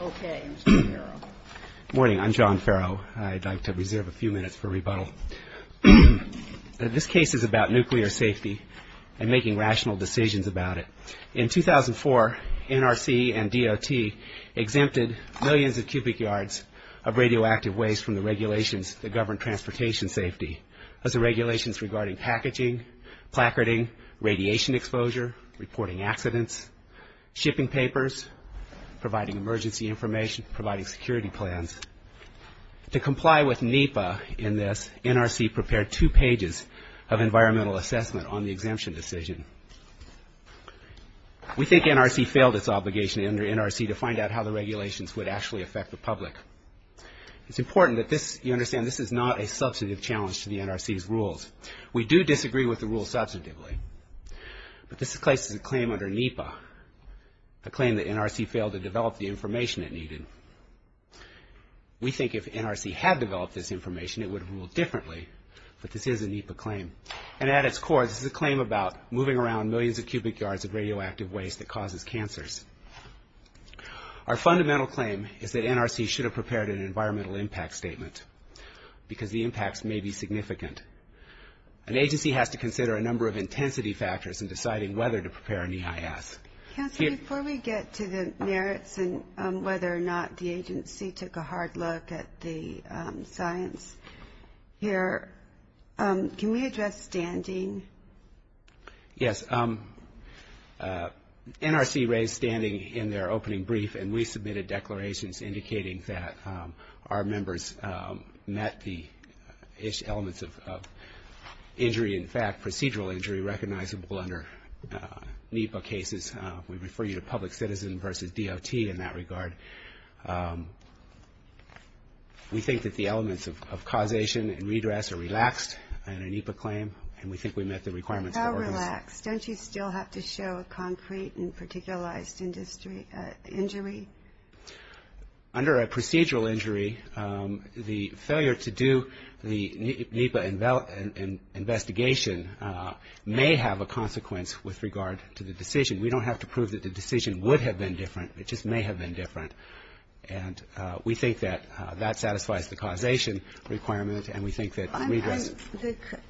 Okay, I'm John Ferro. Morning, I'm John Ferro. I'd like to reserve a few minutes for rebuttal. This case is about nuclear safety and making rational decisions about it. In 2004, NRC and DOT exempted millions of cubic yards of radioactive waste from the regulations that govern transportation safety. Those are regulations regarding packaging, placarding, radiation exposure, reporting accidents, shipping papers, providing emergency information, providing security plans. To comply with NEPA in this, NRC prepared two pages of environmental assessment on the exemption decision. We think NRC failed its obligation under NRC to find out how the regulations would actually affect the public. It's important that this, you understand, this is not a substantive challenge to the NRC's rules. We do disagree with the rules substantively, but this case is a claim under NEPA, a claim that NRC failed to develop the information it needed. We think if NRC had developed this information, it would have ruled differently, but this is a NEPA claim. And at its core, this is a claim about moving around millions of cubic yards of radioactive waste that causes cancers. Our fundamental claim is that NRC should have prepared an environmental impact statement because the number of intensity factors in deciding whether to prepare an EIS. Counsel, before we get to the merits and whether or not the agency took a hard look at the science here, can we address standing? Yes. NRC raised standing in their opening brief, and we submitted declarations indicating that our members met the elements of injury, in fact, procedural injury recognizable under NEPA cases. We refer you to public citizen versus DOT in that regard. We think that the elements of causation and redress are relaxed under NEPA claim, and we think we met the requirements of the organization. But how relaxed? Don't you still have to show a concrete and particularized injury? Under a procedural injury, the failure to do the NEPA investigation may have a consequence with regard to the decision. We don't have to prove that the decision would have been different. It just may have been different. And we think that that satisfies the causation requirement, and we think that redress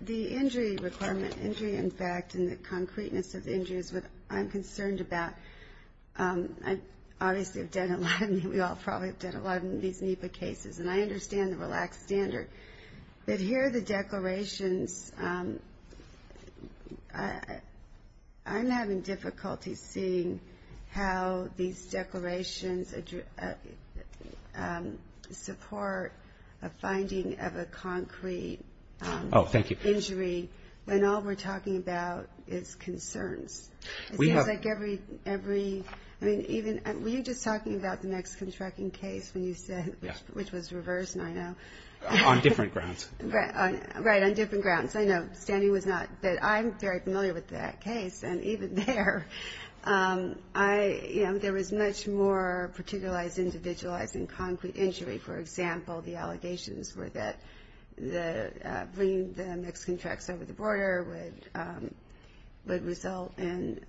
The injury requirement, injury in fact, and the concreteness of injury is what I'm concerned about. Obviously, we all probably have done a lot of these NEPA cases, and I understand the relaxed standard. But here are the declarations. I'm having difficulty seeing how these declarations support a finding of a concrete injury when all we're talking about is concerns. It seems like every, I mean, even, were you just talking about the Mexican trucking case when you said, which was reversed, and I know. On different grounds. Right, on different grounds. I know, Sandy was not, but I'm very familiar with that case, and even there, I, you know, there was much more particularized, individualized, and concrete injury. For example, the allegations were that the, bringing the Mexican trucks over the border would result in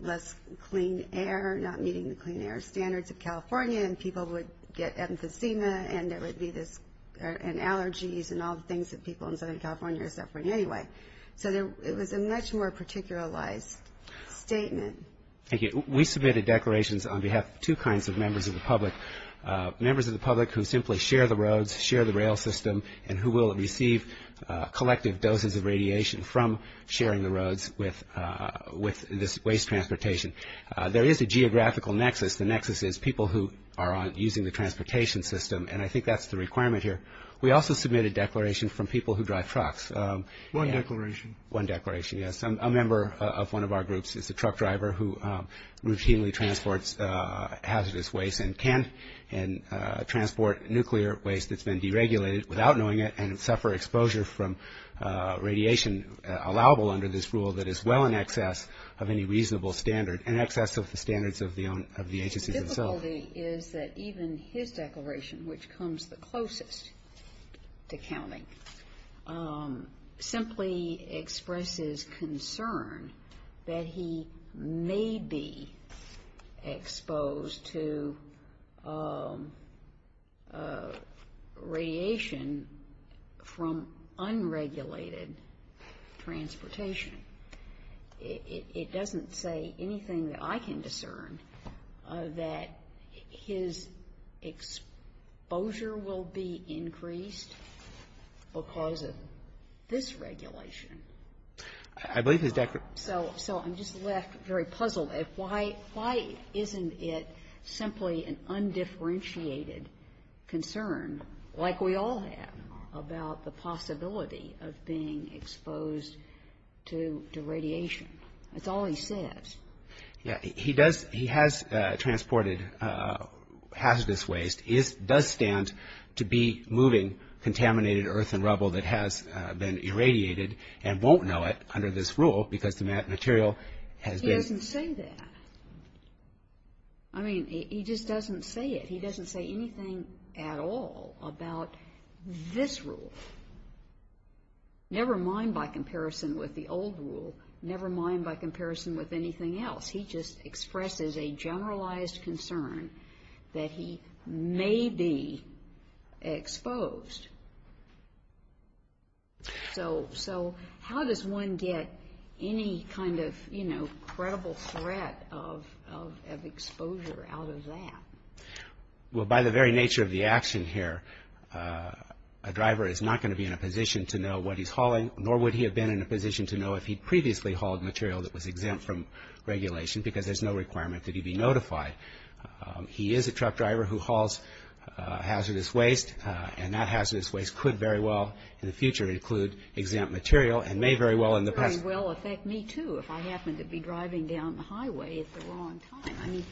less clean air, not meeting the clean air standards of California, and people would get emphysema, and there would be this, and allergies, and all the things that people in Southern California are suffering anyway. So there, it was a much more particularized statement. Thank you. We submitted declarations on behalf of two kinds of members of the public. Members of the public who simply share the roads, share the rail system, and who will receive collective doses of radiation from sharing the roads with this waste transportation. There is a geographical nexus. The nexus is people who are using the transportation system, and I think that's the requirement here. We also submitted declarations from people who drive trucks. One declaration. One declaration, yes. A member of one of our groups is a truck driver who routinely transports hazardous waste and can transport nuclear waste that's been deregulated without knowing it and suffer exposure from radiation allowable under this rule that is well in excess of any reasonable standard, in excess of the standards of the agencies themselves. The difficulty is that even his declaration, which comes the closest to counting, simply expresses concern that he may be exposed to radiation in a way that is not acceptable from unregulated transportation. It doesn't say anything that I can discern that his exposure will be increased because of this regulation. I believe his declaration So I'm just left very puzzled. Why isn't it simply an undifferentiated concern like we all have about the possibility of being exposed to radiation? That's all he says. He does, he has transported hazardous waste. It does stand to be moving contaminated earth and rubble that has been irradiated and won't know it under this rule because the material has been He doesn't say that. I mean, he just doesn't say it. He doesn't say anything at all about this rule, never mind by comparison with the old rule, never mind by comparison with anything else. He just expresses a generalized concern that he may be exposed. So how does one get any kind of, you know, credible threat of exposure out of that? Well, by the very nature of the action here, a driver is not going to be in a position to know what he's hauling, nor would he have been in a position to know if he'd previously hauled material that was exempt from regulation because there's no requirement that he be notified. He is a truck driver who hauls hazardous waste, and that hazardous waste could very well in the future include exempt material and may very well in the I happen to be driving down the highway at the wrong time. I mean,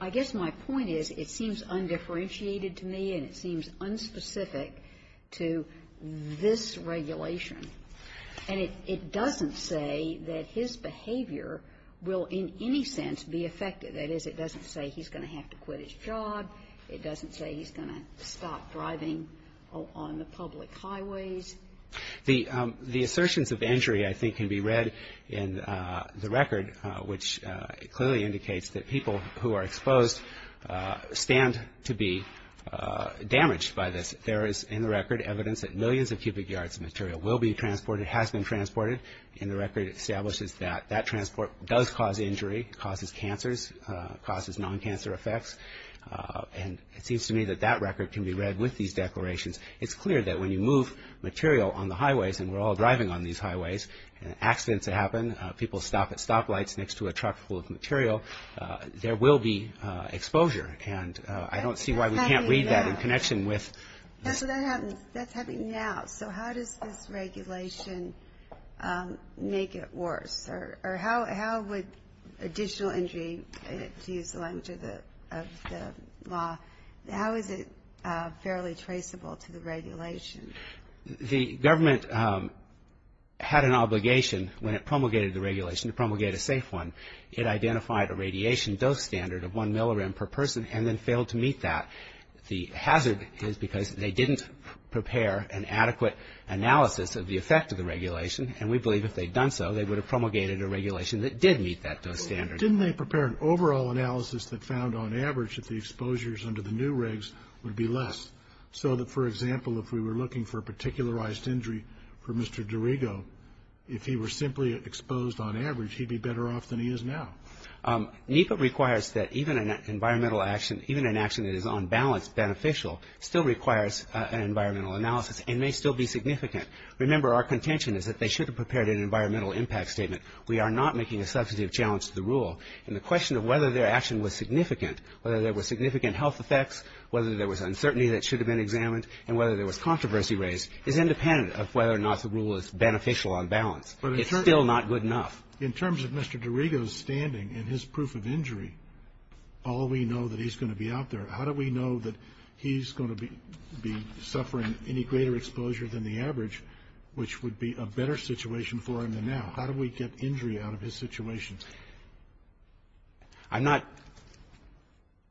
I guess my point is it seems undifferentiated to me, and it seems unspecific to this regulation. And it doesn't say that his behavior will in any sense be affected. That is, it doesn't say he's going to have to quit his job. It doesn't say he's going to stop driving on the public highways. The assertions of injury, I think, can be read in the record, which clearly indicates that people who are exposed stand to be damaged by this. There is, in the record, evidence that millions of cubic yards of material will be transported, has been transported, and the record establishes that that transport does cause injury, causes cancers, causes non-cancer effects. And it seems to me that that record can be read with these declarations. It's clear that when you move material on the highways, and we're all driving on these highways, and accidents happen, people stop at stoplights next to a truck full of material, there will be exposure. And I don't see why we can't read that in connection with That's what's happening now. So how does this regulation make it worse? Or how would additional injury, to use the language of the law, how is it fairly traceable to the regulation? The government had an obligation when it promulgated the regulation to promulgate a safe one. It identified a radiation dose standard of one millirem per person and then failed to meet that. The hazard is because they didn't prepare an adequate analysis of the effect of the regulation, and we believe if they'd done so, they would have promulgated a regulation that did meet that dose standard. Didn't they prepare an overall analysis that found on average that the exposures under the new regs would be less? So that, for example, if we were looking for a particularized injury for Mr. Dorigo, if he were simply exposed on average, he'd be better off than he is now. NEPA requires that even an environmental action, even an action that is on balance beneficial, still requires an environmental analysis, and may still be significant. Remember, our contention is that they should have prepared an environmental impact statement. We are not making a substantive challenge to the rule, and the question of whether their action was significant, whether there were significant health effects, whether there was uncertainty that should have been examined, and whether there was controversy raised is independent of whether or not the rule is beneficial on balance. It's still not good enough. In terms of Mr. Dorigo's standing and his proof of injury, all we know that he's going to be out there. How do we know that he's going to be suffering any greater exposure than the average, which would be a better situation for him than now? How do we get injury out of his situation? I'm not,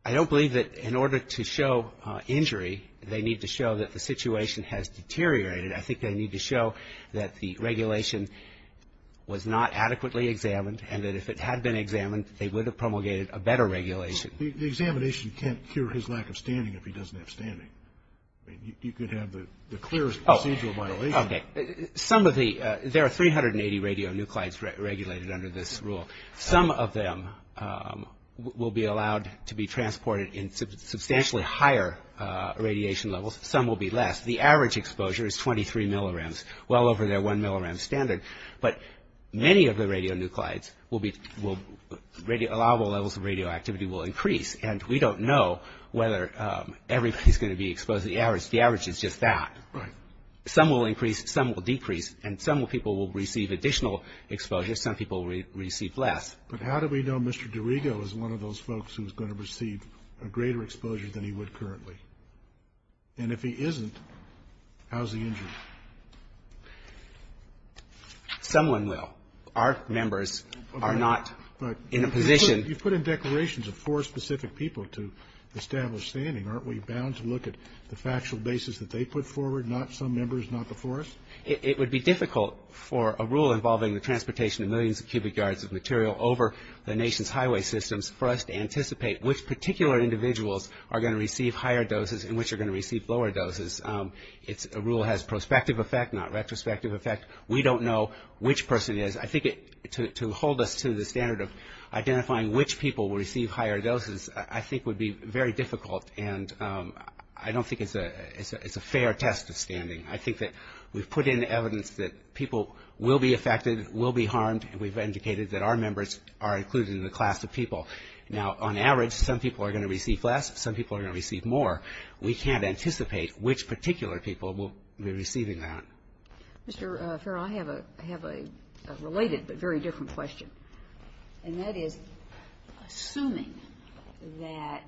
I don't believe that in order to show injury, they need to show that the situation has deteriorated. I think they need to show that the regulation was not adequately examined, and that if it had been examined, they would have promulgated a better regulation. The examination can't cure his lack of standing if he doesn't have standing. I mean, you could have the clearest procedural violation. Okay. Some of the, there are 380 radionuclides regulated under this rule. Some of them will be allowed to be transported in substantially higher radiation levels. Some will be less. The average exposure is 23 millirems, well over their 1 millirem standard. But many of the radionuclides will be, allowable levels of radioactivity will increase, and we don't know whether everybody's going to be exposed. The average is just that. Right. Some will increase, some will decrease, and some people will receive additional exposure, some people will receive less. But how do we know Mr. DiRigo is one of those folks who's going to receive a greater exposure than he would currently? And if he isn't, how's the injury? Someone will. Our members are not in a position... You've put in declarations of four specific people to establish standing. Aren't we bound to look at the factual basis that they put forward, not some members, not the forest? It would be difficult for a rule involving the transportation of millions of cubic yards of material over the nation's highway systems for us to anticipate which particular individuals are going to receive higher doses and which are going to receive lower doses. A rule has prospective effect, not retrospective effect. We don't know which person is. I think to hold us to the standard of identifying which people will receive higher doses I think would be very difficult, and I don't think it's a fair test of standing. I think that we've put in evidence that people will be affected, will be harmed, and we've indicated that our members are included in the class of people. Now, on average, some people are going to receive less, some people are going to receive more. We can't anticipate which particular people will be receiving that. Mr. Farrell, I have a related but very different question, and that is, assuming that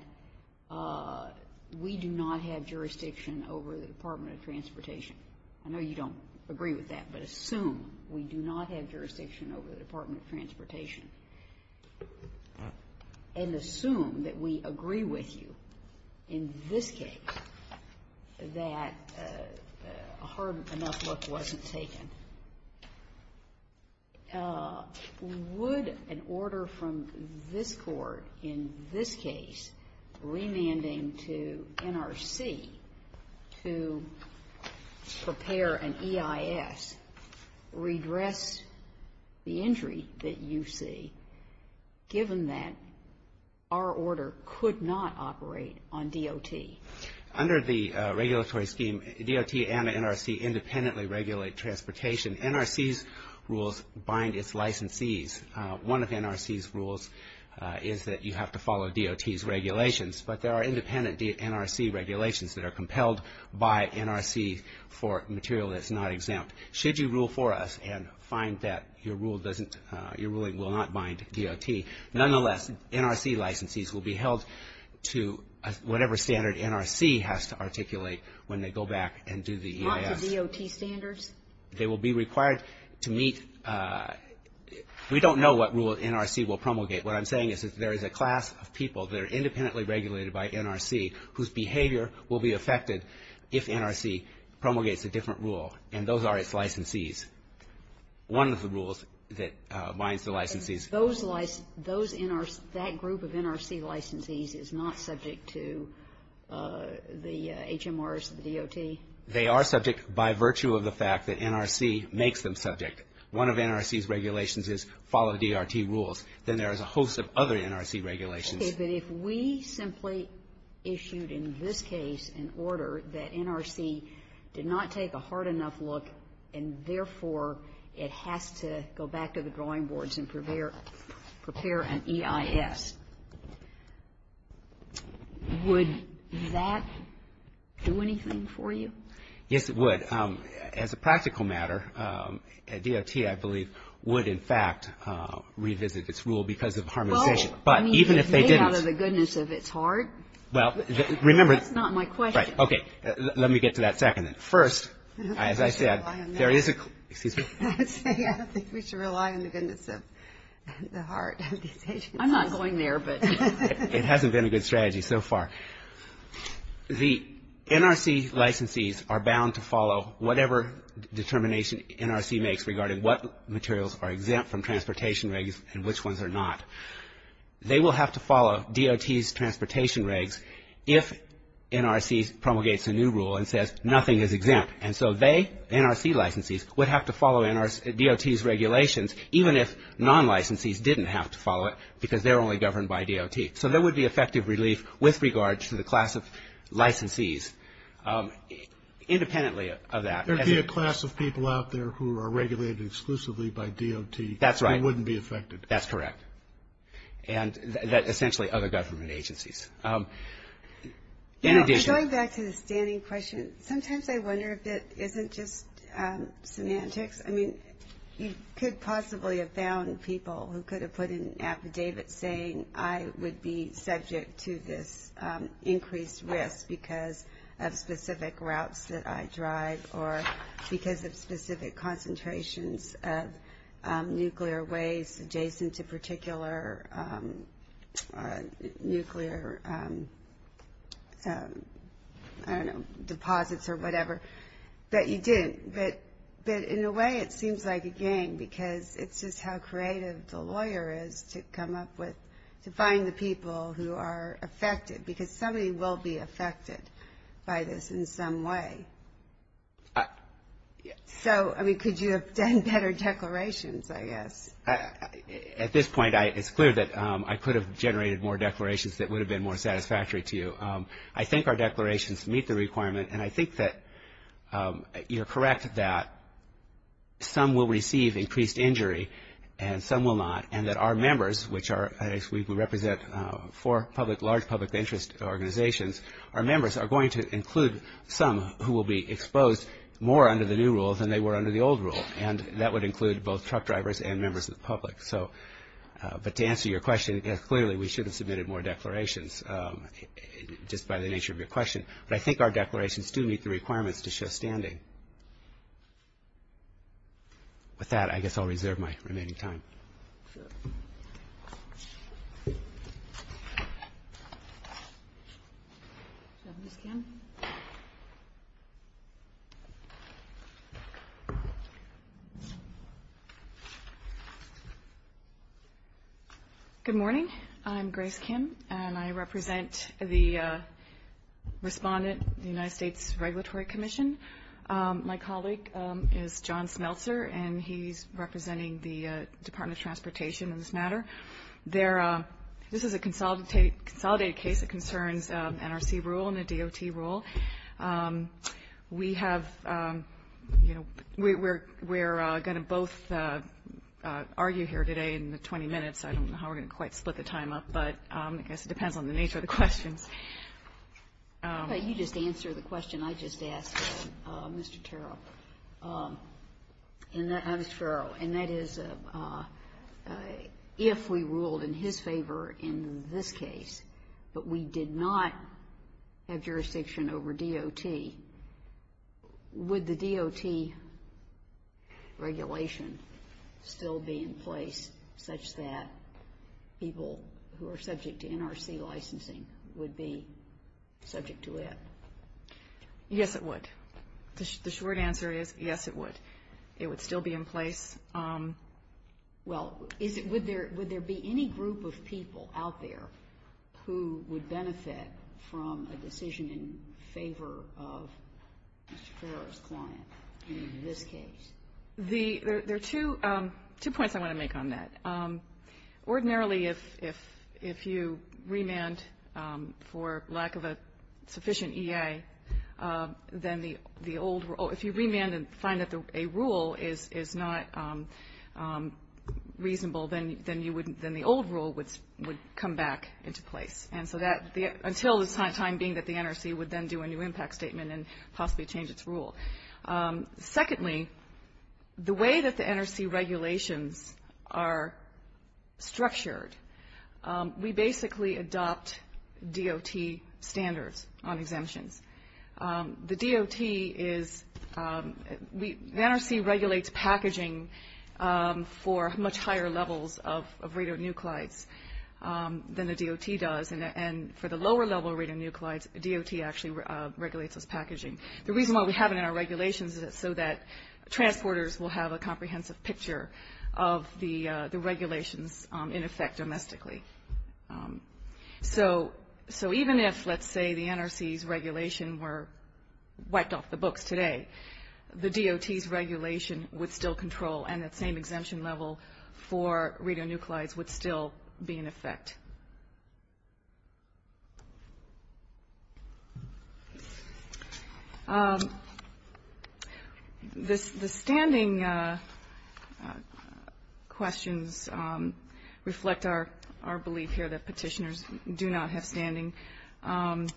the Department of Transportation has jurisdiction over the Department of Transportation, I know you don't agree with that, but assume we do not have jurisdiction over the Department of Transportation, and assume that we agree with you in this case that a hard enough look wasn't taken, would an order from this Court in this case to have jurisdiction remanding to NRC to prepare an EIS redress the injury that you see, given that our order could not operate on DOT? Under the regulatory scheme, DOT and NRC independently regulate transportation. NRC's rules bind its licensees. One of NRC's rules is that you have to follow DOT's regulations, but there are independent NRC regulations that are compelled by NRC for material that's not exempt. Should you rule for us and find that your ruling will not bind DOT, nonetheless, NRC licensees will be held to whatever standard NRC has to articulate when they go back and do the EIS. Not to DOT standards? They will be required to meet we don't know what rule NRC will promulgate. What I'm saying is there is a class of people that are independently regulated by NRC whose behavior will be affected if NRC promulgates a different rule, and those are its licensees. One of the rules that binds the licensees. Those NRC, that group of NRC licensees is not subject to the HMRs, the DOT? They are subject by virtue of the fact that NRC makes them subject. One of NRC's regulations is follow DOT rules. Then there is a host of other NRC regulations. Okay. But if we simply issued in this case an order that NRC did not take a hard enough look and, therefore, it has to go back to the drawing boards and prepare an EIS, would that do anything for you? Yes, it would. As a practical matter, DOT, I believe, would, in fact, revisit its rule because of harm of decision. But even if they didn't. Well, I mean, is they out of the goodness of its heart? Well, remember. That's not my question. Right. Okay. Let me get to that second then. First, as I said, there is a – excuse me? I was saying I don't think we should rely on the goodness of the heart of these agencies. I'm not going there, but – It hasn't been a good strategy so far. The NRC licensees are bound to follow whatever determination NRC makes regarding what materials are exempt from transportation regs and which ones are not. They will have to follow DOT's transportation regs if NRC promulgates a new rule and says nothing is exempt. And so they, NRC licensees, would have to follow DOT's regulations even if non-licensees didn't have to follow it because they're only governed by DOT. So there would be effective relief with regards to the class of licensees, independently of that. There would be a class of people out there who are regulated exclusively by DOT. That's right. Who wouldn't be affected. That's correct. And that essentially other government agencies. In addition – Going back to the standing question, sometimes I wonder if it isn't just semantics. I mean, you could possibly have found people who could have put an affidavit saying I would be subject to this increased risk because of specific routes that I drive or because of specific concentrations of nuclear waste adjacent to particular nuclear, I don't know, deposits or whatever, but you didn't. But in a way, it seems like a game because it's just how creative the lawyer is to come up with, to find the people who are affected because somebody will be affected by this in some way. So, I mean, could you have done better declarations, I guess? At this point, it's clear that I could have generated more declarations that would have been more satisfactory to you. I think our declarations meet the requirement, and I think that you're correct that some will receive increased injury and some will not, and that our members, which are, as we represent four large public interest organizations, our members are going to include some who will be exposed more under the new rule than they were under the old rule, and that would include both truck drivers and members of the public. So, but to answer your question, clearly, we should have submitted more declarations just by the nature of your question, but I think our declarations do meet the requirements to show standing. With that, I guess I'll reserve my remaining time. Good morning. I'm Grace Kim, and I represent the respondent of the United States Regulatory Commission. My colleague is John Smeltzer, and he's representing the Department of Transportation in this matter. This is a consolidated case that concerns NRC rule and the DOT rule. We have, you know, we're going to both argue here today in the 20 minutes. I don't know how we're going to quite split the time up, but I guess it depends on the nature of the questions. You just answered the question I just asked, Mr. Terrell. And that is, if we ruled in his favor in this case, but we did not have jurisdiction over DOT, would the DOT regulation still be in place such that people who are subject to NRC licensing would be subject to it? Yes, it would. The short answer is, yes, it would. It would still be in place. Well, would there be any group of people out there who would benefit from a decision in favor of Mr. Ferrer's client in this case? There are two points I want to make on that. Ordinarily, if you remand for lack of a sufficient EA, then the old rule, if you remand and find that a rule is not reasonable, then the old rule would come back into place. And so that, until the time being that the NRC would then do a new impact statement and possibly change its rule. Secondly, the way that the NRC regulations are structured, we basically adopt DOT standards on exemptions. The DOT is, the NRC regulates packaging for much higher levels of radionuclides than the DOT does. And for the lower level radionuclides, DOT actually regulates those packaging. The reason why we have it in our regulations is so that transporters will have a comprehensive picture of the regulations in effect domestically. So even if, let's say, the NRC's regulation were wiped off the books today, the DOT's regulation would still be in effect. The standing questions reflect our belief here that Petitioners do not have standing. In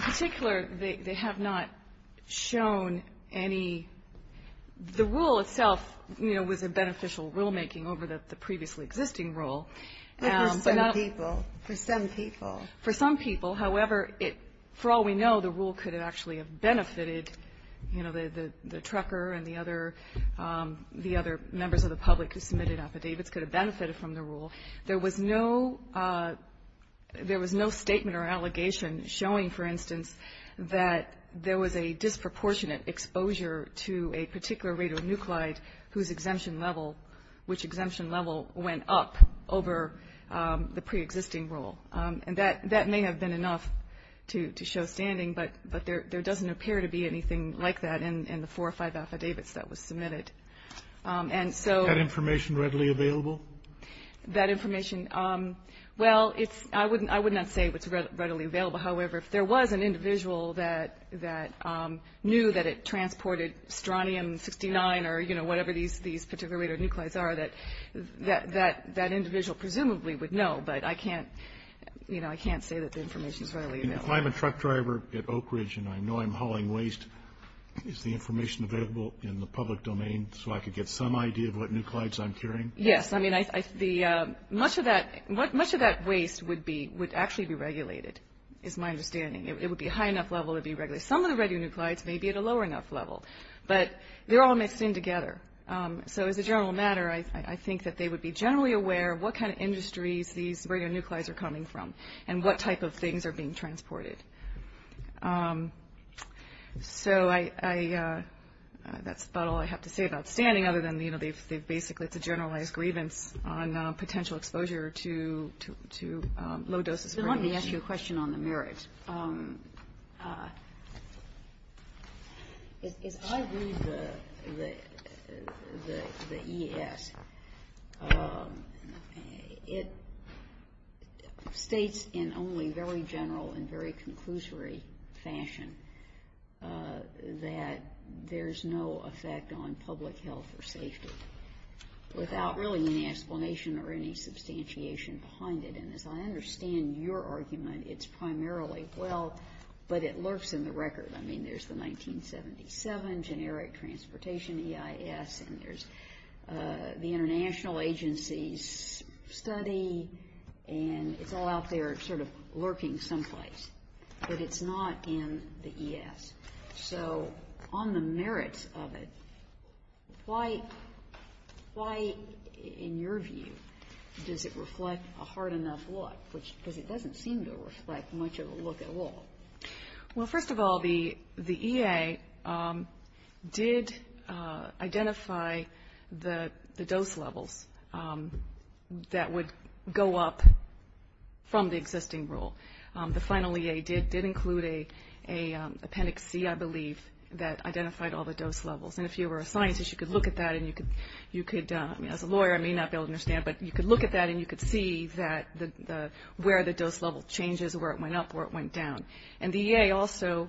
particular, they have not shown any, the rule itself, you know, was a beneficial rulemaking over the previously existing rule. But for some people, for some people. For some people. However, for all we know, the rule could have actually benefited, you know, the trucker and the other members of the public who submitted affidavits could have benefited from the rule. There was no statement or allegation showing, for instance, that there was a disproportionate exposure to a particular radionuclide whose exemption level, which exemption level went up over the pre-existing rule. And that may have been enough to show standing, but there doesn't appear to be anything like that in the four or five affidavits that was submitted. And so. Is that information readily available? That information, well, I would not say it's readily available. However, if there was an information available about what the radionuclides are, that individual presumably would know. But I can't, you know, I can't say that the information is readily available. If I'm a truck driver at Oak Ridge and I know I'm hauling waste, is the information available in the public domain so I could get some idea of what nuclides I'm carrying? Yes. I mean, much of that waste would be, would actually be regulated, is my understanding. It would be a high enough level to be regulated. Some of the radionuclides may be at a lower enough level, but they're all mixed in together. So as a general matter, I think that they would be generally aware of what kind of industries these radionuclides are coming from and what type of things are being transported. So I, that's about all I have to say about standing, other than, you know, they've basically it's a generalized grievance on potential exposure to low doses. So let me ask you a question on the merits. As I read the E.S., it states in only very general and very conclusory fashion that there's no effect on public health or safety without really any explanation or any substantiation behind it. And as I understand your argument, it's primarily, well, but it lurks in the record. I mean, there's the 1977 Generic Transportation E.I.S. and there's the International Agency's study and it's all out there sort of lurking someplace, but it's not in the E.S. So on the merits of it, why in your view does it reflect a hard enough look? Because it doesn't seem to reflect much of a look at all. Well, first of all, the E.A. did identify the dose levels that would go up from the final E.A. did include an appendix C, I believe, that identified all the dose levels. And if you were a scientist, you could look at that and you could, as a lawyer, I may not be able to understand, but you could look at that and you could see that where the dose level changes, where it went up, where it went down. And the E.A. also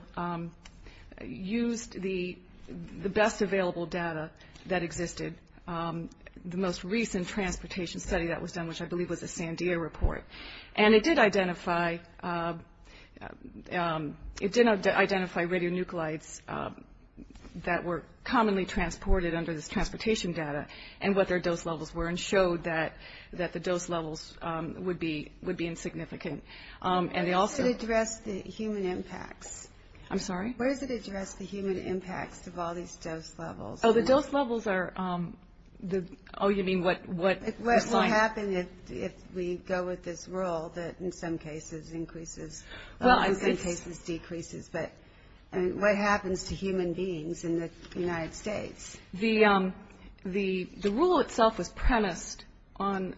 used the best available data that existed. The most recent transportation study that was done, which I believe was the E.A., it did identify radionuclides that were commonly transported under this transportation data and what their dose levels were and showed that the dose levels would be insignificant. Where does it address the human impacts? I'm sorry? Where does it address the human impacts of all these dose levels? Oh, the dose levels are, oh, you mean what? What will happen if we go with this rule that in some cases increases, in some cases decreases, but what happens to human beings in the United States? The rule itself was premised on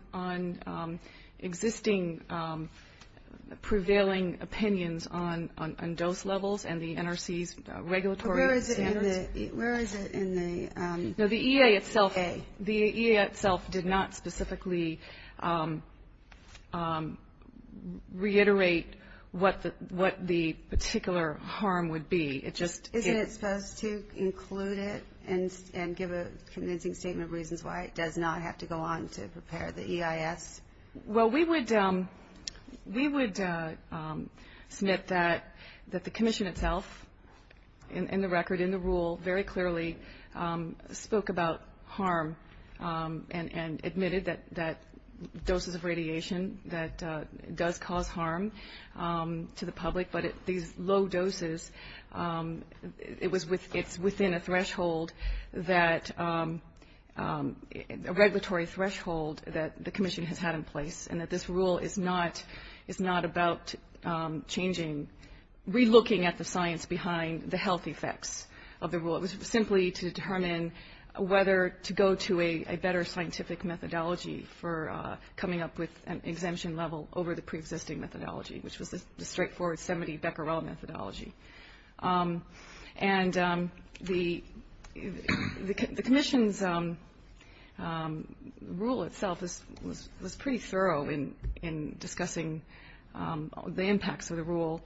existing prevailing opinions on dose levels and the NRC's regulatory standards. Where is it in the E.A.? The E.A. itself did not specifically reiterate what the particular harm would be. It just Isn't it supposed to include it and give a convincing statement of reasons why it does not have to go on to prepare the E.I.S.? Well, we would submit that the Commission itself, in the record, in the rule, very clearly spoke about harm and admitted that doses of radiation that does cause harm to the public, but these low doses, it's within a threshold that, a regulatory threshold that the Commission has had in place and that this rule is not about changing, re-looking at the science behind the health effects of the rule. It was simply to determine whether to go to a better scientific methodology for coming up with an exemption level over the pre-existing methodology, which was the straightforward 70 Becquerel methodology. And the Commission's rule itself was pretty thorough in discussing the impacts of the rule.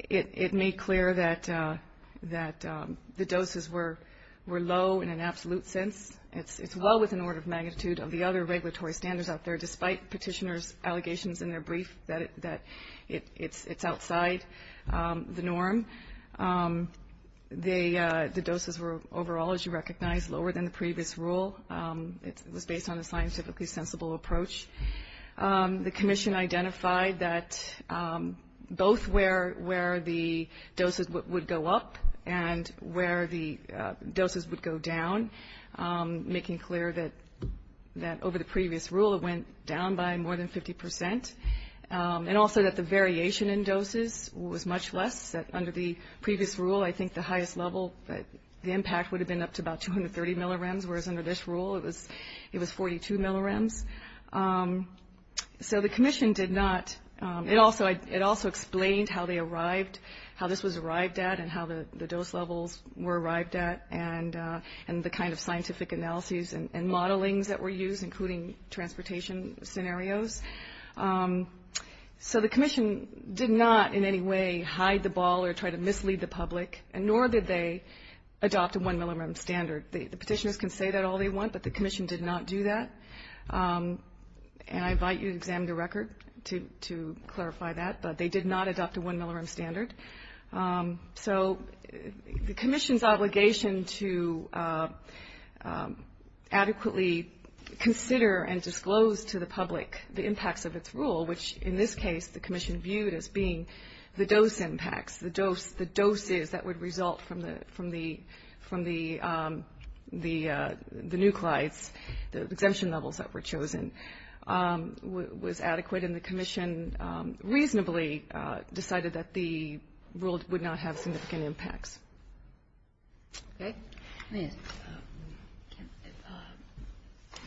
It made clear that the doses were low in an absolute sense. It's well within order of magnitude of the other regulatory standards out there, despite petitioners' allegations in their brief that it's outside the norm. The doses were, overall, as you recognize, lower than the previous rule. It was based on a scientifically sensible approach. The Commission identified that both where the doses would go up and where the doses would go down, making clear that over the previous rule, it went down by more than 50%. And also that the variation in doses was much less. Under the previous rule, I think the highest level, the impact would have been up to about 230 millirems, whereas under this So the Commission did not, it also explained how they arrived, how this was arrived at and how the dose levels were arrived at and the kind of scientific analyses and modelings that were used, including transportation scenarios. So the Commission did not in any way hide the ball or try to mislead the public, nor did they adopt a one millirem standard. The Commission did not do that. And I invite you to examine the record to clarify that, but they did not adopt a one millirem standard. So the Commission's obligation to adequately consider and disclose to the public the impacts of its rule, which in this case the Commission viewed as being the dose impacts, the doses that would result from the nuclides, the exemption levels that were chosen, was adequate. And the Commission reasonably decided that the rule would not have significant impacts. Okay?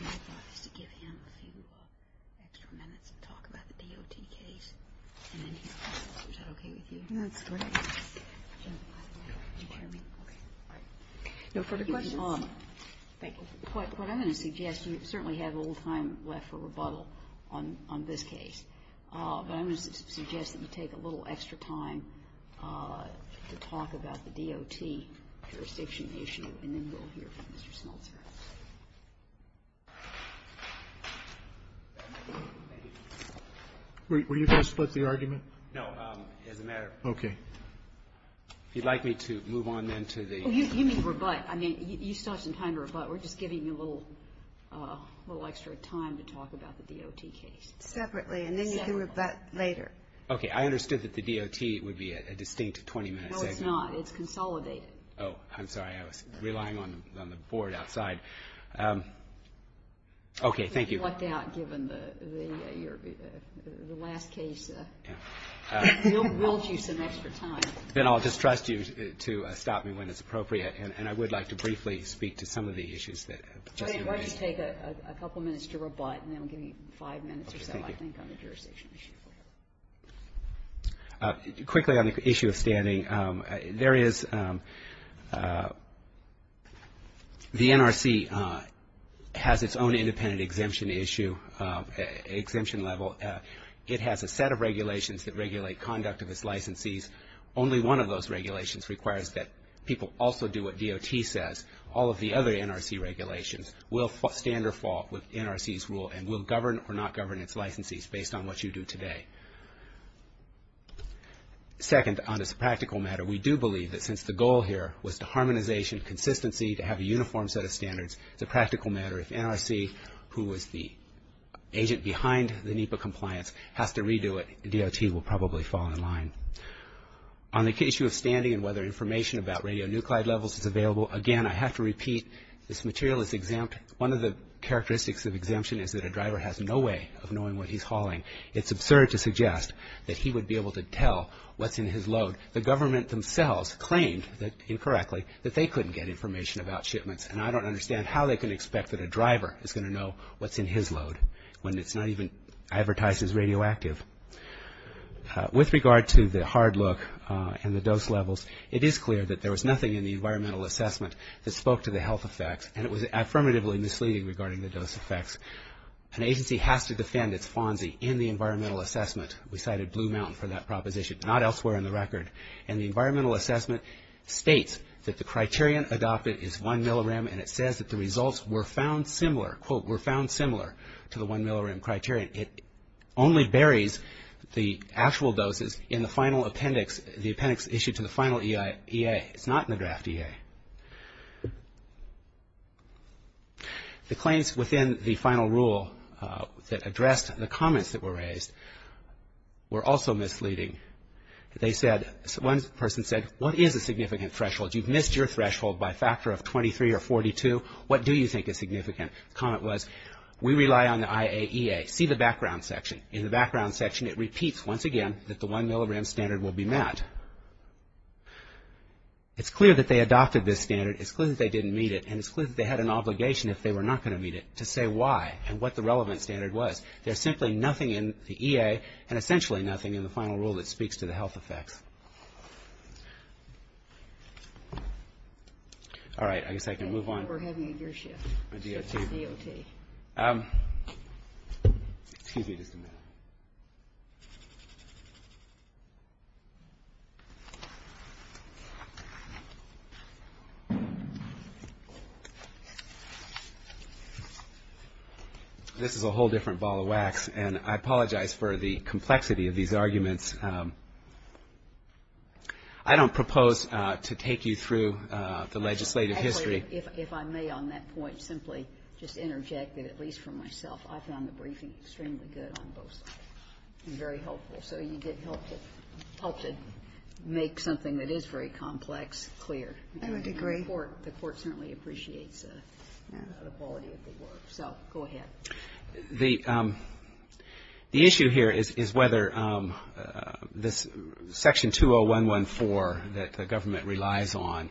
My thought is to give him a few extra minutes to talk about the DOT case, and then he'll come back. Is that okay with you? That's great. Can you hear me? Okay. All right. No further questions? Thank you. What I'm going to suggest, you certainly have a little time left for rebuttal on this case, but I'm going to suggest that you take a little extra time to talk about the DOT jurisdiction issue, and then we'll hear from Mr. Smeltzer. Were you going to split the argument? No. As a matter of fact. Okay. If you'd like me to move on then to the other case. Oh, you mean rebut. I mean, you still have some time to rebut. We're just giving you a little extra time to talk about the DOT case. Separately, and then you can rebut later. Okay. I understood that the DOT would be a distinct 20-minute segment. No, it's not. It's consolidated. Oh, I'm sorry. I was relying on the board outside. Okay. Thank you. But you lucked out given the last case. Yeah. We'll give you some extra time. Then I'll just trust you to stop me when it's appropriate, and I would like to briefly speak to some of the issues that the Justice Committee. Why don't you take a couple minutes to rebut, and then we'll give you five minutes or so, I think, on the jurisdiction issue. Quickly on the issue of standing, there is the NRC has its own independent exemption issue, exemption level. It has a set of regulations that regulate conduct of its licensees. Only one of those regulations requires that people also do what DOT says. All of the other NRC regulations will stand or fall with NRC's rule and will govern or not govern its licensees based on what you do today. Second, on this practical matter, we do believe that since the goal here was to harmonization, consistency, to have a uniform set of standards, it's a practical matter. If NRC, who was the agent behind the NEPA compliance, has to redo it, DOT will probably fall in line. On the issue of standing and whether information about radionuclide levels is available, again, I have to repeat, this material is exempt. One of the characteristics of exemption is that a driver has no way of knowing what he's hauling. It's absurd to suggest that he would be able to tell what's in his load. The government themselves claimed, incorrectly, that they couldn't get information about shipments, and I don't understand how they can expect that a driver is going to know what's in his load when it's not even advertised as radioactive. With regard to the hard look and the dose levels, it is clear that there was nothing in the environmental assessment that spoke to the health effects, and it was affirmatively misleading regarding the dose effects. An agency has to defend its FONSI in the environmental assessment. We cited Blue Mountain for that proposition, but not elsewhere in the record. And the environmental assessment states that the criterion adopted is 1 milliram, and it says that the results were found similar, quote, were found similar to the 1 milliram criterion. It only buries the actual doses in the final appendix, the appendix issued to the final EA. It's not in the draft EA. The claims within the final rule that addressed the comments that were raised were also misleading. They said, one person said, what is a significant threshold? You've missed your threshold by a factor of 23 or 42. What do you think is significant? The comment was, we rely on the IAEA. See the background section. It repeats once again that the 1 milliram standard will be met. It's clear that they adopted this standard. It's clear that they didn't meet it, and it's clear that they had an obligation, if they were not going to meet it, to say why and what the relevant standard was. There's simply nothing in the EA and essentially nothing in the final rule that speaks to the health effects. All right, I guess I can move on. We're having a gear shift. A DOT. DOT. Excuse me just a minute. This is a whole different ball of wax, and I apologize for the complexity of these arguments. I don't propose to take you through the legislative history. If I may on that point simply just interject that at least for myself, I found the briefing extremely good on both sides and very helpful, so you did help to make something that is very complex clear. I would agree. The Court certainly appreciates the quality of the work, so go ahead. The issue here is whether this Section 20114 that the government relies on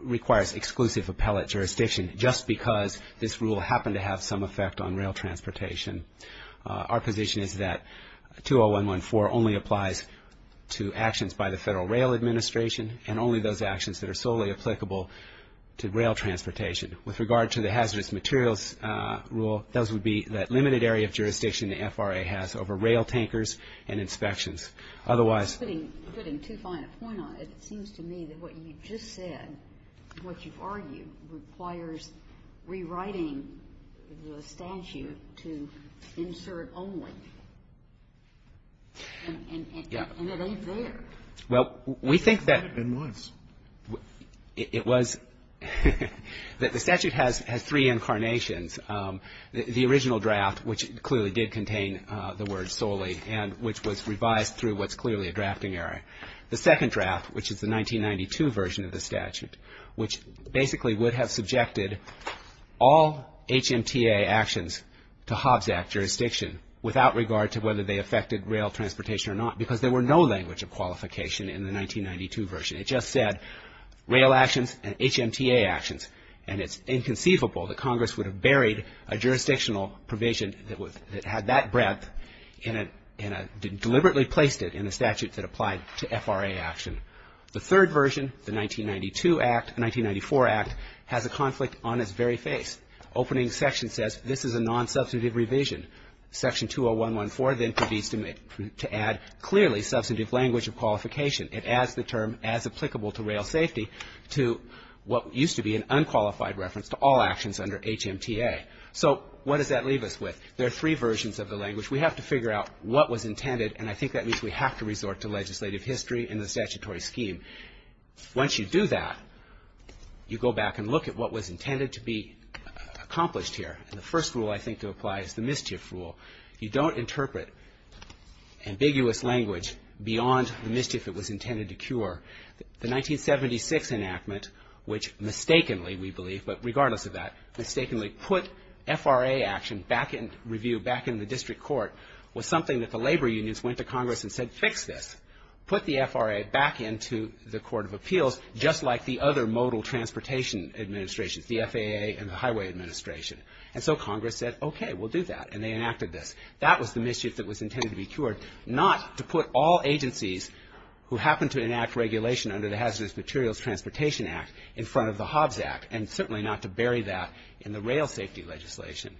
requires exclusive appellate jurisdiction just because this rule happened to have some effect on rail transportation. Our position is that 20114 only applies to actions by the Federal Rail Administration and only those actions that are solely applicable to rail transportation. With regard to the hazardous materials rule, those would be that limited area of jurisdiction the FRA has over rail tankers and inspections. Otherwise ---- Putting too fine a point on it, it seems to me that what you just said, what you've argued, requires rewriting the statute to insert only. And it ain't there. Well, we think that ---- It was. It was. The statute has three incarnations. The original draft, which clearly did contain the word solely and which was revised through what's clearly a drafting error. The second draft, which is the 1992 version of the statute, which basically would have subjected all HMTA actions to Hobbs Act jurisdiction without regard to whether they affected rail transportation or not because there were no language of qualification in the 1992 version. It just said rail actions and HMTA actions. And it's inconceivable that Congress would have buried a jurisdictional provision that had that breadth and deliberately placed it in a statute that applied to FRA action. The third version, the 1992 Act, 1994 Act, has a conflict on its very face. Opening section says this is a non-substantive revision. Section 20114 then provides to add clearly substantive language of qualification. It adds the term as applicable to rail safety to what used to be an unqualified reference to all actions under HMTA. So what does that leave us with? There are three versions of the language. We have to figure out what was intended, and I think that means we have to resort to legislative history and the statutory scheme. Once you do that, you go back and look at what was intended to be accomplished here. And the first rule I think to apply is the mischief rule. You don't interpret ambiguous language beyond the mischief that was intended to cure. The 1976 enactment, which mistakenly, we believe, but regardless of that, mistakenly put FRA action back in review, back in the district court, was something that the labor unions went to Congress and said, fix this. Put the FRA back into the Court of Appeals just like the other modal transportation administrations, the FAA and the Highway Administration. And so Congress said, okay, we'll do that. And they enacted this. That was the mischief that was intended to be cured, not to put all agencies who happened to enact regulation under the Hazardous Materials Transportation Act in front of the Hobbs Act and certainly not to bury that in the rail safety legislation.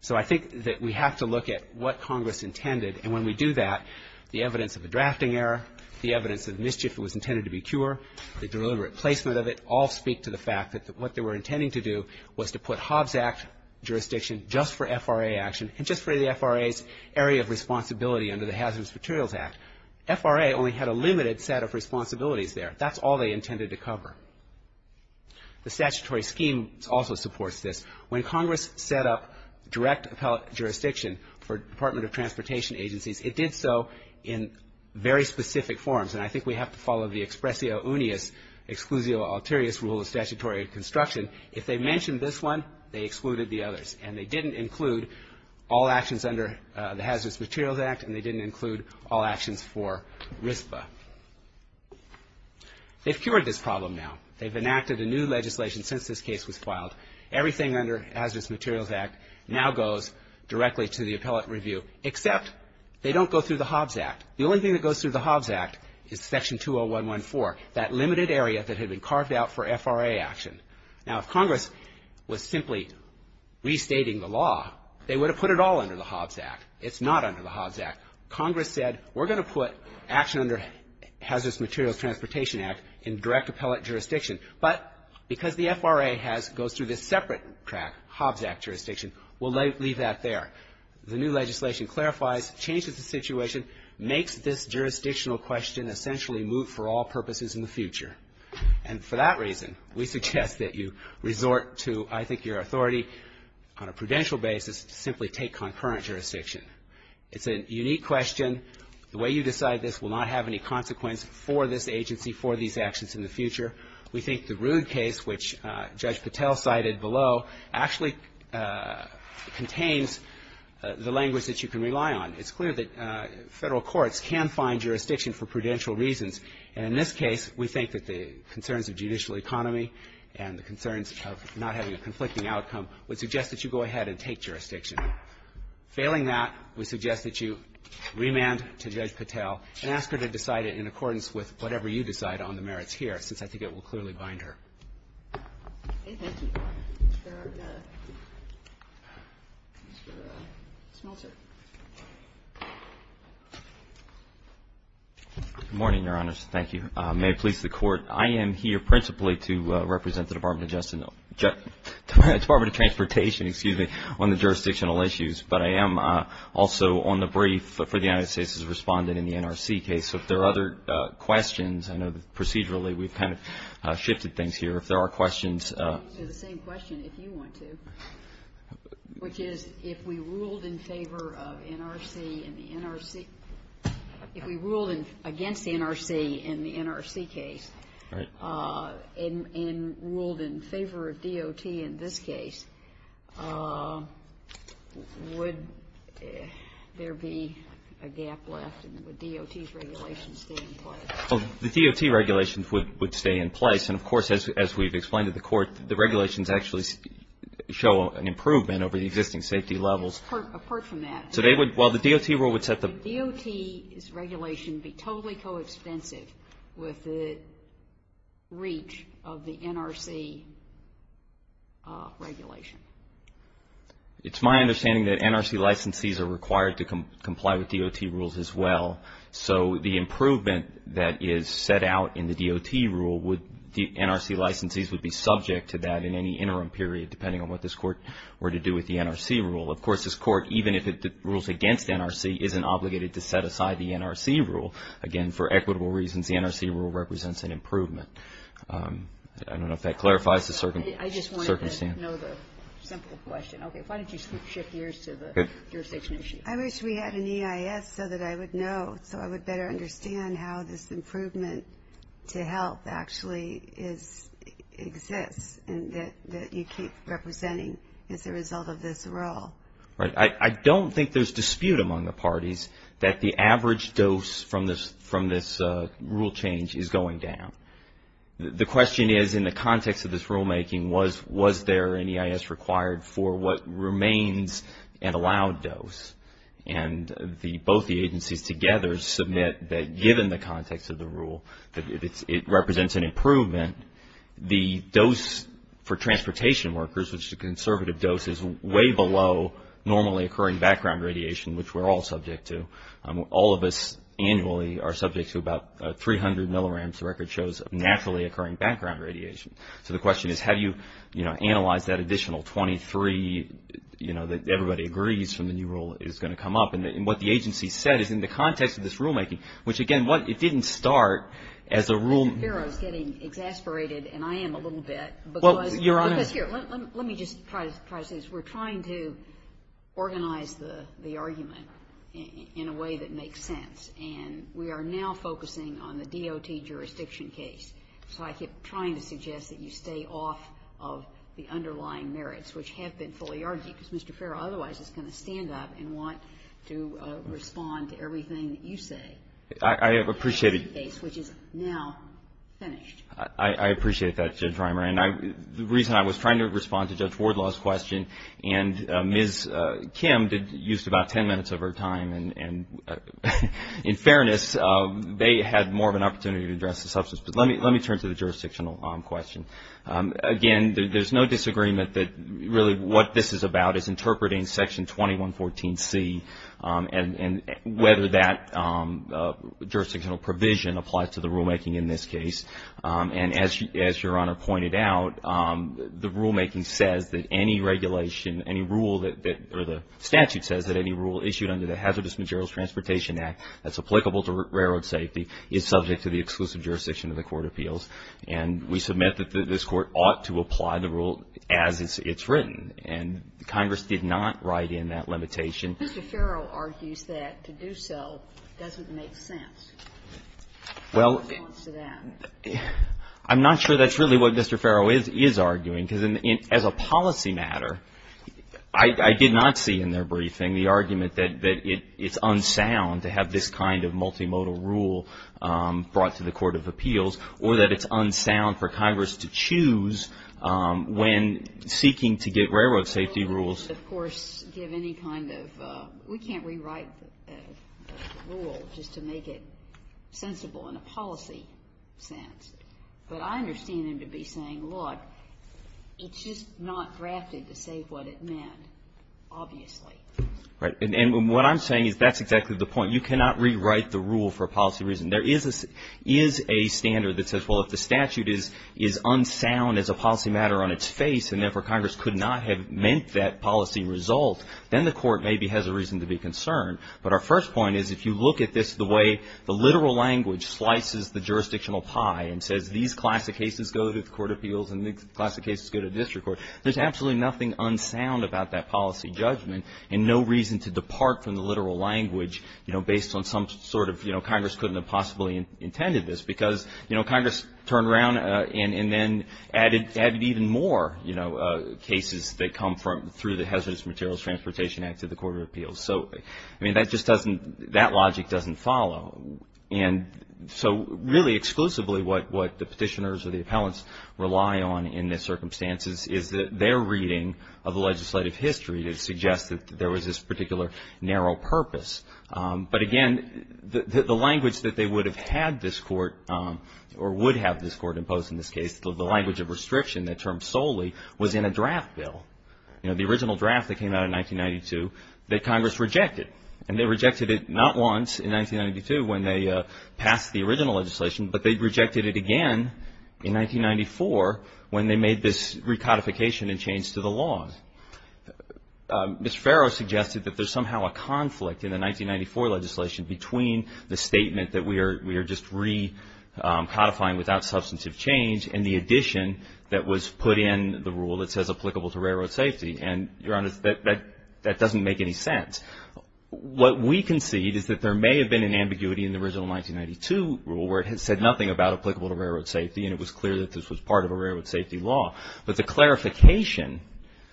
So I think that we have to look at what Congress intended, and when we do that, the evidence of the drafting error, the evidence of mischief that was intended to be cured, the deliberate placement of it, all speak to the fact that what they were intending to do was to put Hobbs Act jurisdiction just for FRA action and just for the FRA's area of responsibility under the Hazardous Materials Act. FRA only had a limited set of responsibilities there. That's all they intended to cover. The statutory scheme also supports this. When Congress set up direct appellate jurisdiction for Department of Transportation agencies, it did so in very specific forms, and I think we have to follow the expressio unius, exclusio alterius rule of statutory construction. If they mentioned this one, they excluded the others, and they didn't include all actions under the Hazardous Materials Act and they didn't include all actions for RISPA. They've cured this problem now. They've enacted a new legislation since this case was filed. Everything under Hazardous Materials Act now goes directly to the appellate review, except they don't go through the Hobbs Act. The only thing that goes through the Hobbs Act is Section 20114, that limited area that had been carved out for FRA action. Now, if Congress was simply restating the law, they would have put it all under the Hobbs Act. It's not under the Hobbs Act. Congress said we're going to put action under Hazardous Materials Transportation Act in direct appellate jurisdiction, but because the FRA has goes through this separate track, Hobbs Act jurisdiction, we'll leave that there. The new legislation clarifies, changes the situation, makes this jurisdictional question essentially move for all purposes in the future. And for that reason, we suggest that you resort to, I think, your authority on a prudential basis to simply take concurrent jurisdiction. It's a unique question. The way you decide this will not have any consequence for this agency, for these actions in the future. We think the Rood case, which Judge Patel cited below, actually contains the language that you can rely on. It's clear that Federal courts can find jurisdiction for prudential reasons. And in this case, we think that the concerns of judicial economy and the concerns of not having a conflicting outcome would suggest that you go ahead and take jurisdiction. Failing that, we suggest that you remand to Judge Patel and ask her to decide it in accordance with whatever you decide on the merits here, since I think it will clearly bind her. Okay, thank you. Mr. Smoltzer. Good morning, Your Honors. Thank you. May it please the Court. I am here principally to represent the Department of Transportation on the jurisdictional issues, but I am also on the brief for the United States' respondent in the NRC case. So if there are other questions, I know that procedurally we've kind of shifted things here. If there are questions. I can answer the same question if you want to, which is if we ruled in favor of NRC and the NRC, if we ruled against the NRC in the NRC case and ruled in favor of DOT in this case, would there be a gap left and would DOT's regulations stay in place? The DOT regulations would stay in place. And, of course, as we've explained to the Court, the regulations actually show an improvement over the existing safety levels. Apart from that. So they would, well, the DOT rule would set the. Would DOT's regulation be totally co-expensive with the reach of the NRC regulation? It's my understanding that NRC licensees are required to comply with DOT rules as well. So the improvement that is set out in the DOT rule would, the NRC licensees would be subject to that in any interim period, depending on what this Court were to do with the NRC rule. Of course, this Court, even if it rules against NRC, isn't obligated to set aside the NRC rule. Again, for equitable reasons, the NRC rule represents an improvement. I don't know if that clarifies the circumstance. I just wanted to know the simple question. Okay. Why don't you shift gears to the jurisdiction issue? I wish we had an EIS so that I would know, so I would better understand how this improvement to health actually exists and that you keep representing as a result of this rule. Right. I don't think there's dispute among the parties that the average dose from this rule change is going down. The question is, in the context of this rulemaking, was there an EIS required for what remains an allowed dose? And both the agencies together submit that, given the context of the rule, that it represents an improvement. The dose for transportation workers, which is a conservative dose, is way below normally occurring background radiation, which we're all subject to. All of us annually are subject to about 300 milliramps. The record shows naturally occurring background radiation. So the question is, how do you, you know, analyze that additional 23, you know, that everybody agrees from the new rule is going to come up? And what the agency said is, in the context of this rulemaking, which, again, it didn't start as a rule. Mr. Ferro is getting exasperated, and I am a little bit. Well, Your Honor. Because here, let me just try to say this. We're trying to organize the argument in a way that makes sense. And we are now focusing on the DOT jurisdiction case. So I keep trying to suggest that you stay off of the underlying merits, which have been fully argued. Because Mr. Ferro, otherwise, is going to stand up and want to respond to everything that you say. I appreciate it. Which is now finished. I appreciate that, Judge Reimer. And the reason I was trying to respond to Judge Wardlaw's question, and Ms. Kim used about 10 minutes of her time, and in fairness, they had more of an opportunity to address the substance. But let me turn to the jurisdictional question. Again, there's no disagreement that really what this is about is interpreting Section 2114C and whether that jurisdictional provision applies to the rulemaking in this case. And as Your Honor pointed out, the rulemaking says that any regulation, any rule, or the statute says that any rule issued under the Hazardous Materials Transportation Act that's applicable to railroad safety is subject to the exclusive jurisdiction of the Court of Appeals. And we submit that this Court ought to apply the rule as it's written. And Congress did not write in that limitation. Mr. Ferro argues that to do so doesn't make sense. Well, I'm not sure that's really what Mr. Ferro is arguing. Because as a policy matter, I did not see in their briefing the argument that it's unsound to have this kind of multimodal rule brought to the Court of Appeals or that it's unsound for Congress to choose when seeking to get railroad safety rules. Of course, give any kind of we can't rewrite the rule just to make it sensible in a policy sense. But I understand them to be saying, look, it's just not drafted to say what it meant, obviously. Right. And what I'm saying is that's exactly the point. You cannot rewrite the rule for a policy reason. There is a standard that says, well, if the statute is unsound as a policy matter on its face and therefore Congress could not have meant that policy result, then the Court maybe has a reason to be concerned. But our first point is if you look at this the way the literal language slices the jurisdictional pie and says these classic cases go to the Court of Appeals and these classic cases go to district court, there's absolutely nothing unsound about that policy judgment and no reason to depart from the literal language, you know, based on some sort of, you know, Congress couldn't have possibly intended this because, you know, Congress turned around and then added even more, you know, cases that come through the Hazardous Materials Transportation Act to the Court of Appeals. So, I mean, that just doesn't that logic doesn't follow. And so really exclusively what the petitioners or the appellants rely on in this circumstance is their reading of the legislative history to suggest that there was this particular narrow purpose. But, again, the language that they would have had this Court or would have this Court impose in this case, the language of restriction that termed solely was in a draft bill, you know, the original draft that came out in 1992 that Congress rejected. And they rejected it not once in 1992 when they passed the original legislation, but they rejected it again in 1994 when they made this recodification and change to the laws. Mr. Farrow suggested that there's somehow a conflict in the 1994 legislation between the statement that we are just recodifying without substantive change and the addition that was put in the rule that says applicable to railroad safety. And, Your Honor, that doesn't make any sense. What we concede is that there may have been an ambiguity in the original 1992 rule where it had said nothing about applicable to railroad safety and it was clear that this was part of a railroad safety law. But the clarification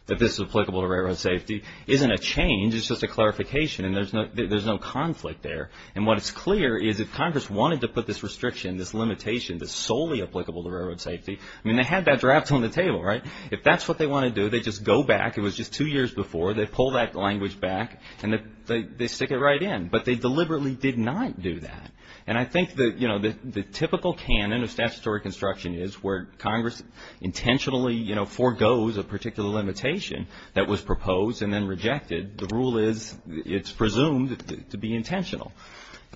that this is applicable to railroad safety isn't a change. It's just a clarification and there's no conflict there. And what is clear is if Congress wanted to put this restriction, this limitation, that's solely applicable to railroad safety, I mean, they had that draft on the table, right? If that's what they want to do, they just go back. It was just two years before. They pull that language back and they stick it right in. But they deliberately did not do that. And I think that, you know, the typical canon of statutory construction is where Congress intentionally, you know, foregoes a particular limitation that was proposed and then rejected. The rule is it's presumed to be intentional.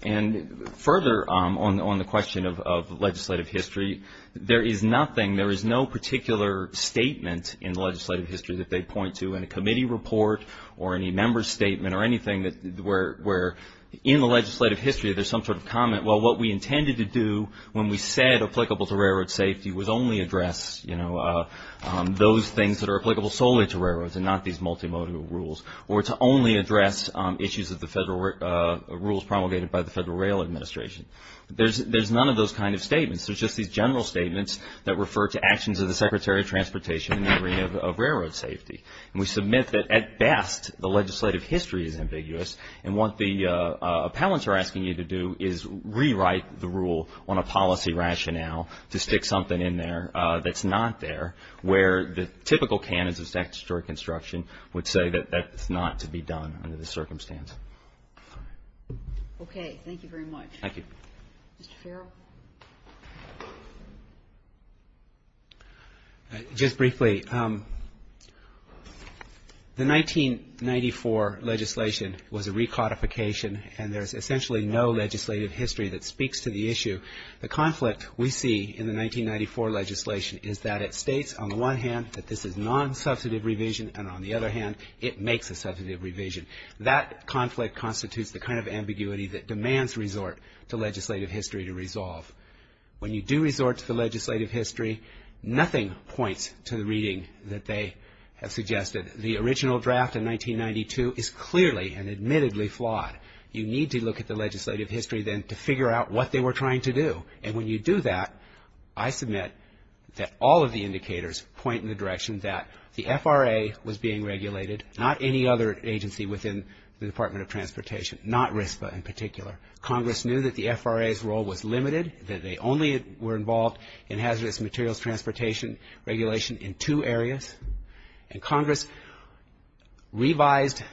And further on the question of legislative history, there is nothing, there is no particular statement in legislative history that they point to in a committee report or any member's statement or anything where in the legislative history there's some sort of comment, well, what we intended to do when we said applicable to railroad safety was only address, you know, those things that are applicable solely to railroads and not these multimodal rules or to only address issues of the federal rules promulgated by the Federal Rail Administration. There's none of those kind of statements. There's just these general statements that refer to actions of the Secretary of Transportation in the area of railroad safety. And we submit that, at best, the legislative history is ambiguous. And what the appellants are asking you to do is rewrite the rule on a policy rationale to stick something in there that's not there where the typical canons of statutory construction would say that that's not to be done under this circumstance. Okay. Thank you very much. Thank you. Mr. Farrell. Just briefly, the 1994 legislation was a recodification, and there's essentially no legislative history that speaks to the issue. The conflict we see in the 1994 legislation is that it states, on the one hand, that this is nonsubstantive revision, and on the other hand, it makes a substantive revision. That conflict constitutes the kind of ambiguity that demands resort to legislative history to resolve. When you do resort to the legislative history, nothing points to the reading that they have suggested. The original draft in 1992 is clearly and admittedly flawed. You need to look at the legislative history then to figure out what they were trying to do. And when you do that, I submit that all of the indicators point in the direction that the FRA was being regulated, not any other agency within the Department of Transportation, not RISPA in particular. Congress knew that the FRA's role was limited, that they only were involved in hazardous materials transportation regulation in two areas, and Congress revised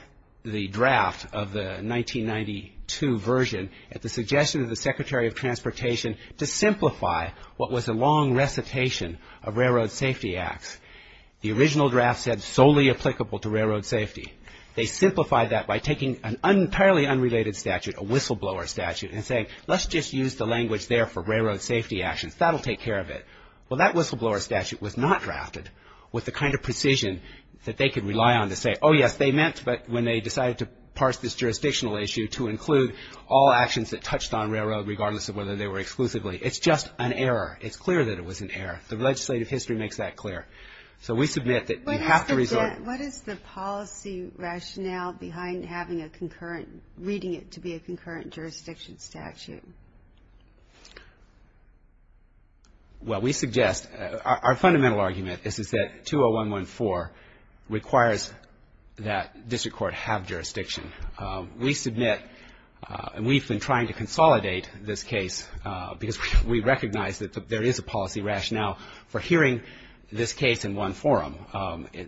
the draft of the 1992 version at the suggestion of the Secretary of Transportation to simplify what was a long recitation of Railroad Safety Acts. The original draft said solely applicable to railroad safety. They simplified that by taking an entirely unrelated statute, a whistleblower statute, and saying, let's just use the language there for railroad safety actions. That will take care of it. Well, that whistleblower statute was not drafted with the kind of precision that they could rely on to say, oh, yes, they meant, but when they decided to parse this jurisdictional issue to include all actions that touched on railroad regardless of whether they were exclusively. It's just an error. It's clear that it was an error. The legislative history makes that clear. So we submit that you have to resort. What is the policy rationale behind having a concurrent, reading it to be a concurrent jurisdiction statute? Well, we suggest, our fundamental argument is that 20114 requires that district court have jurisdiction. We submit, and we've been trying to consolidate this case because we recognize that there is a policy rationale for hearing this case in one forum,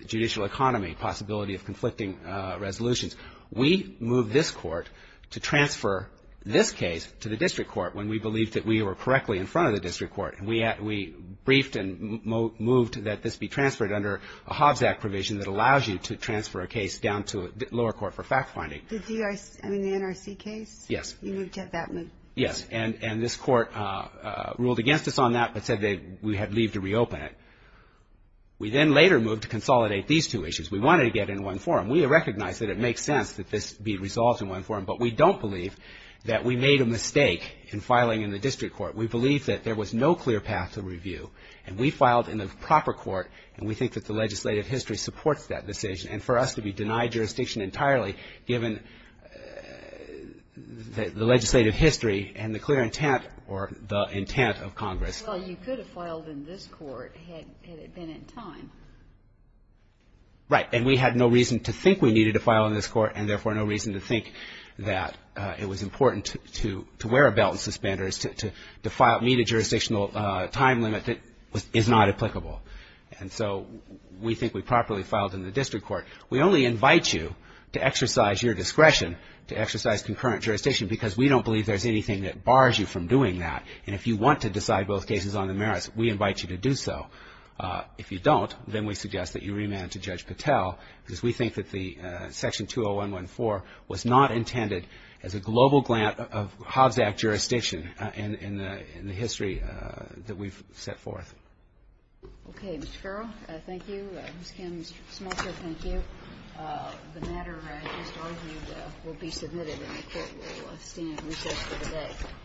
judicial economy, possibility of conflicting resolutions. We moved this court to transfer this case to the district court when we believed that we were correctly in front of the district court. We briefed and moved that this be transferred under a Hobbs Act provision that allows you to transfer a case down to a lower court for fact-finding. The NRC case? Yes. You moved it that way? Yes, and this court ruled against us on that but said that we had leave to reopen it. We then later moved to consolidate these two issues. We wanted to get it in one forum. We recognize that it makes sense that this be resolved in one forum, but we don't believe that we made a mistake in filing in the district court. We believe that there was no clear path to review, and we filed in the proper court, and we think that the legislative history supports that decision. And for us to be denied jurisdiction entirely given the legislative history and the clear intent or the intent of Congress. Well, you could have filed in this court had it been in time. Right, and we had no reason to think we needed to file in this court and therefore no reason to think that it was important to wear a belt and suspend or to meet a jurisdictional time limit that is not applicable. And so we think we properly filed in the district court. We only invite you to exercise your discretion to exercise concurrent jurisdiction because we don't believe there's anything that bars you from doing that. And if you want to decide both cases on the merits, we invite you to do so. If you don't, then we suggest that you remand to Judge Patel because we think that the Section 20114 was not intended as a global grant of Hobbs Act jurisdiction in the history that we've set forth. Okay, Mr. Carroll, thank you. Ms. Kim Smolter, thank you. The matter, I just argued, will be submitted and the court will abstain at recess for the day.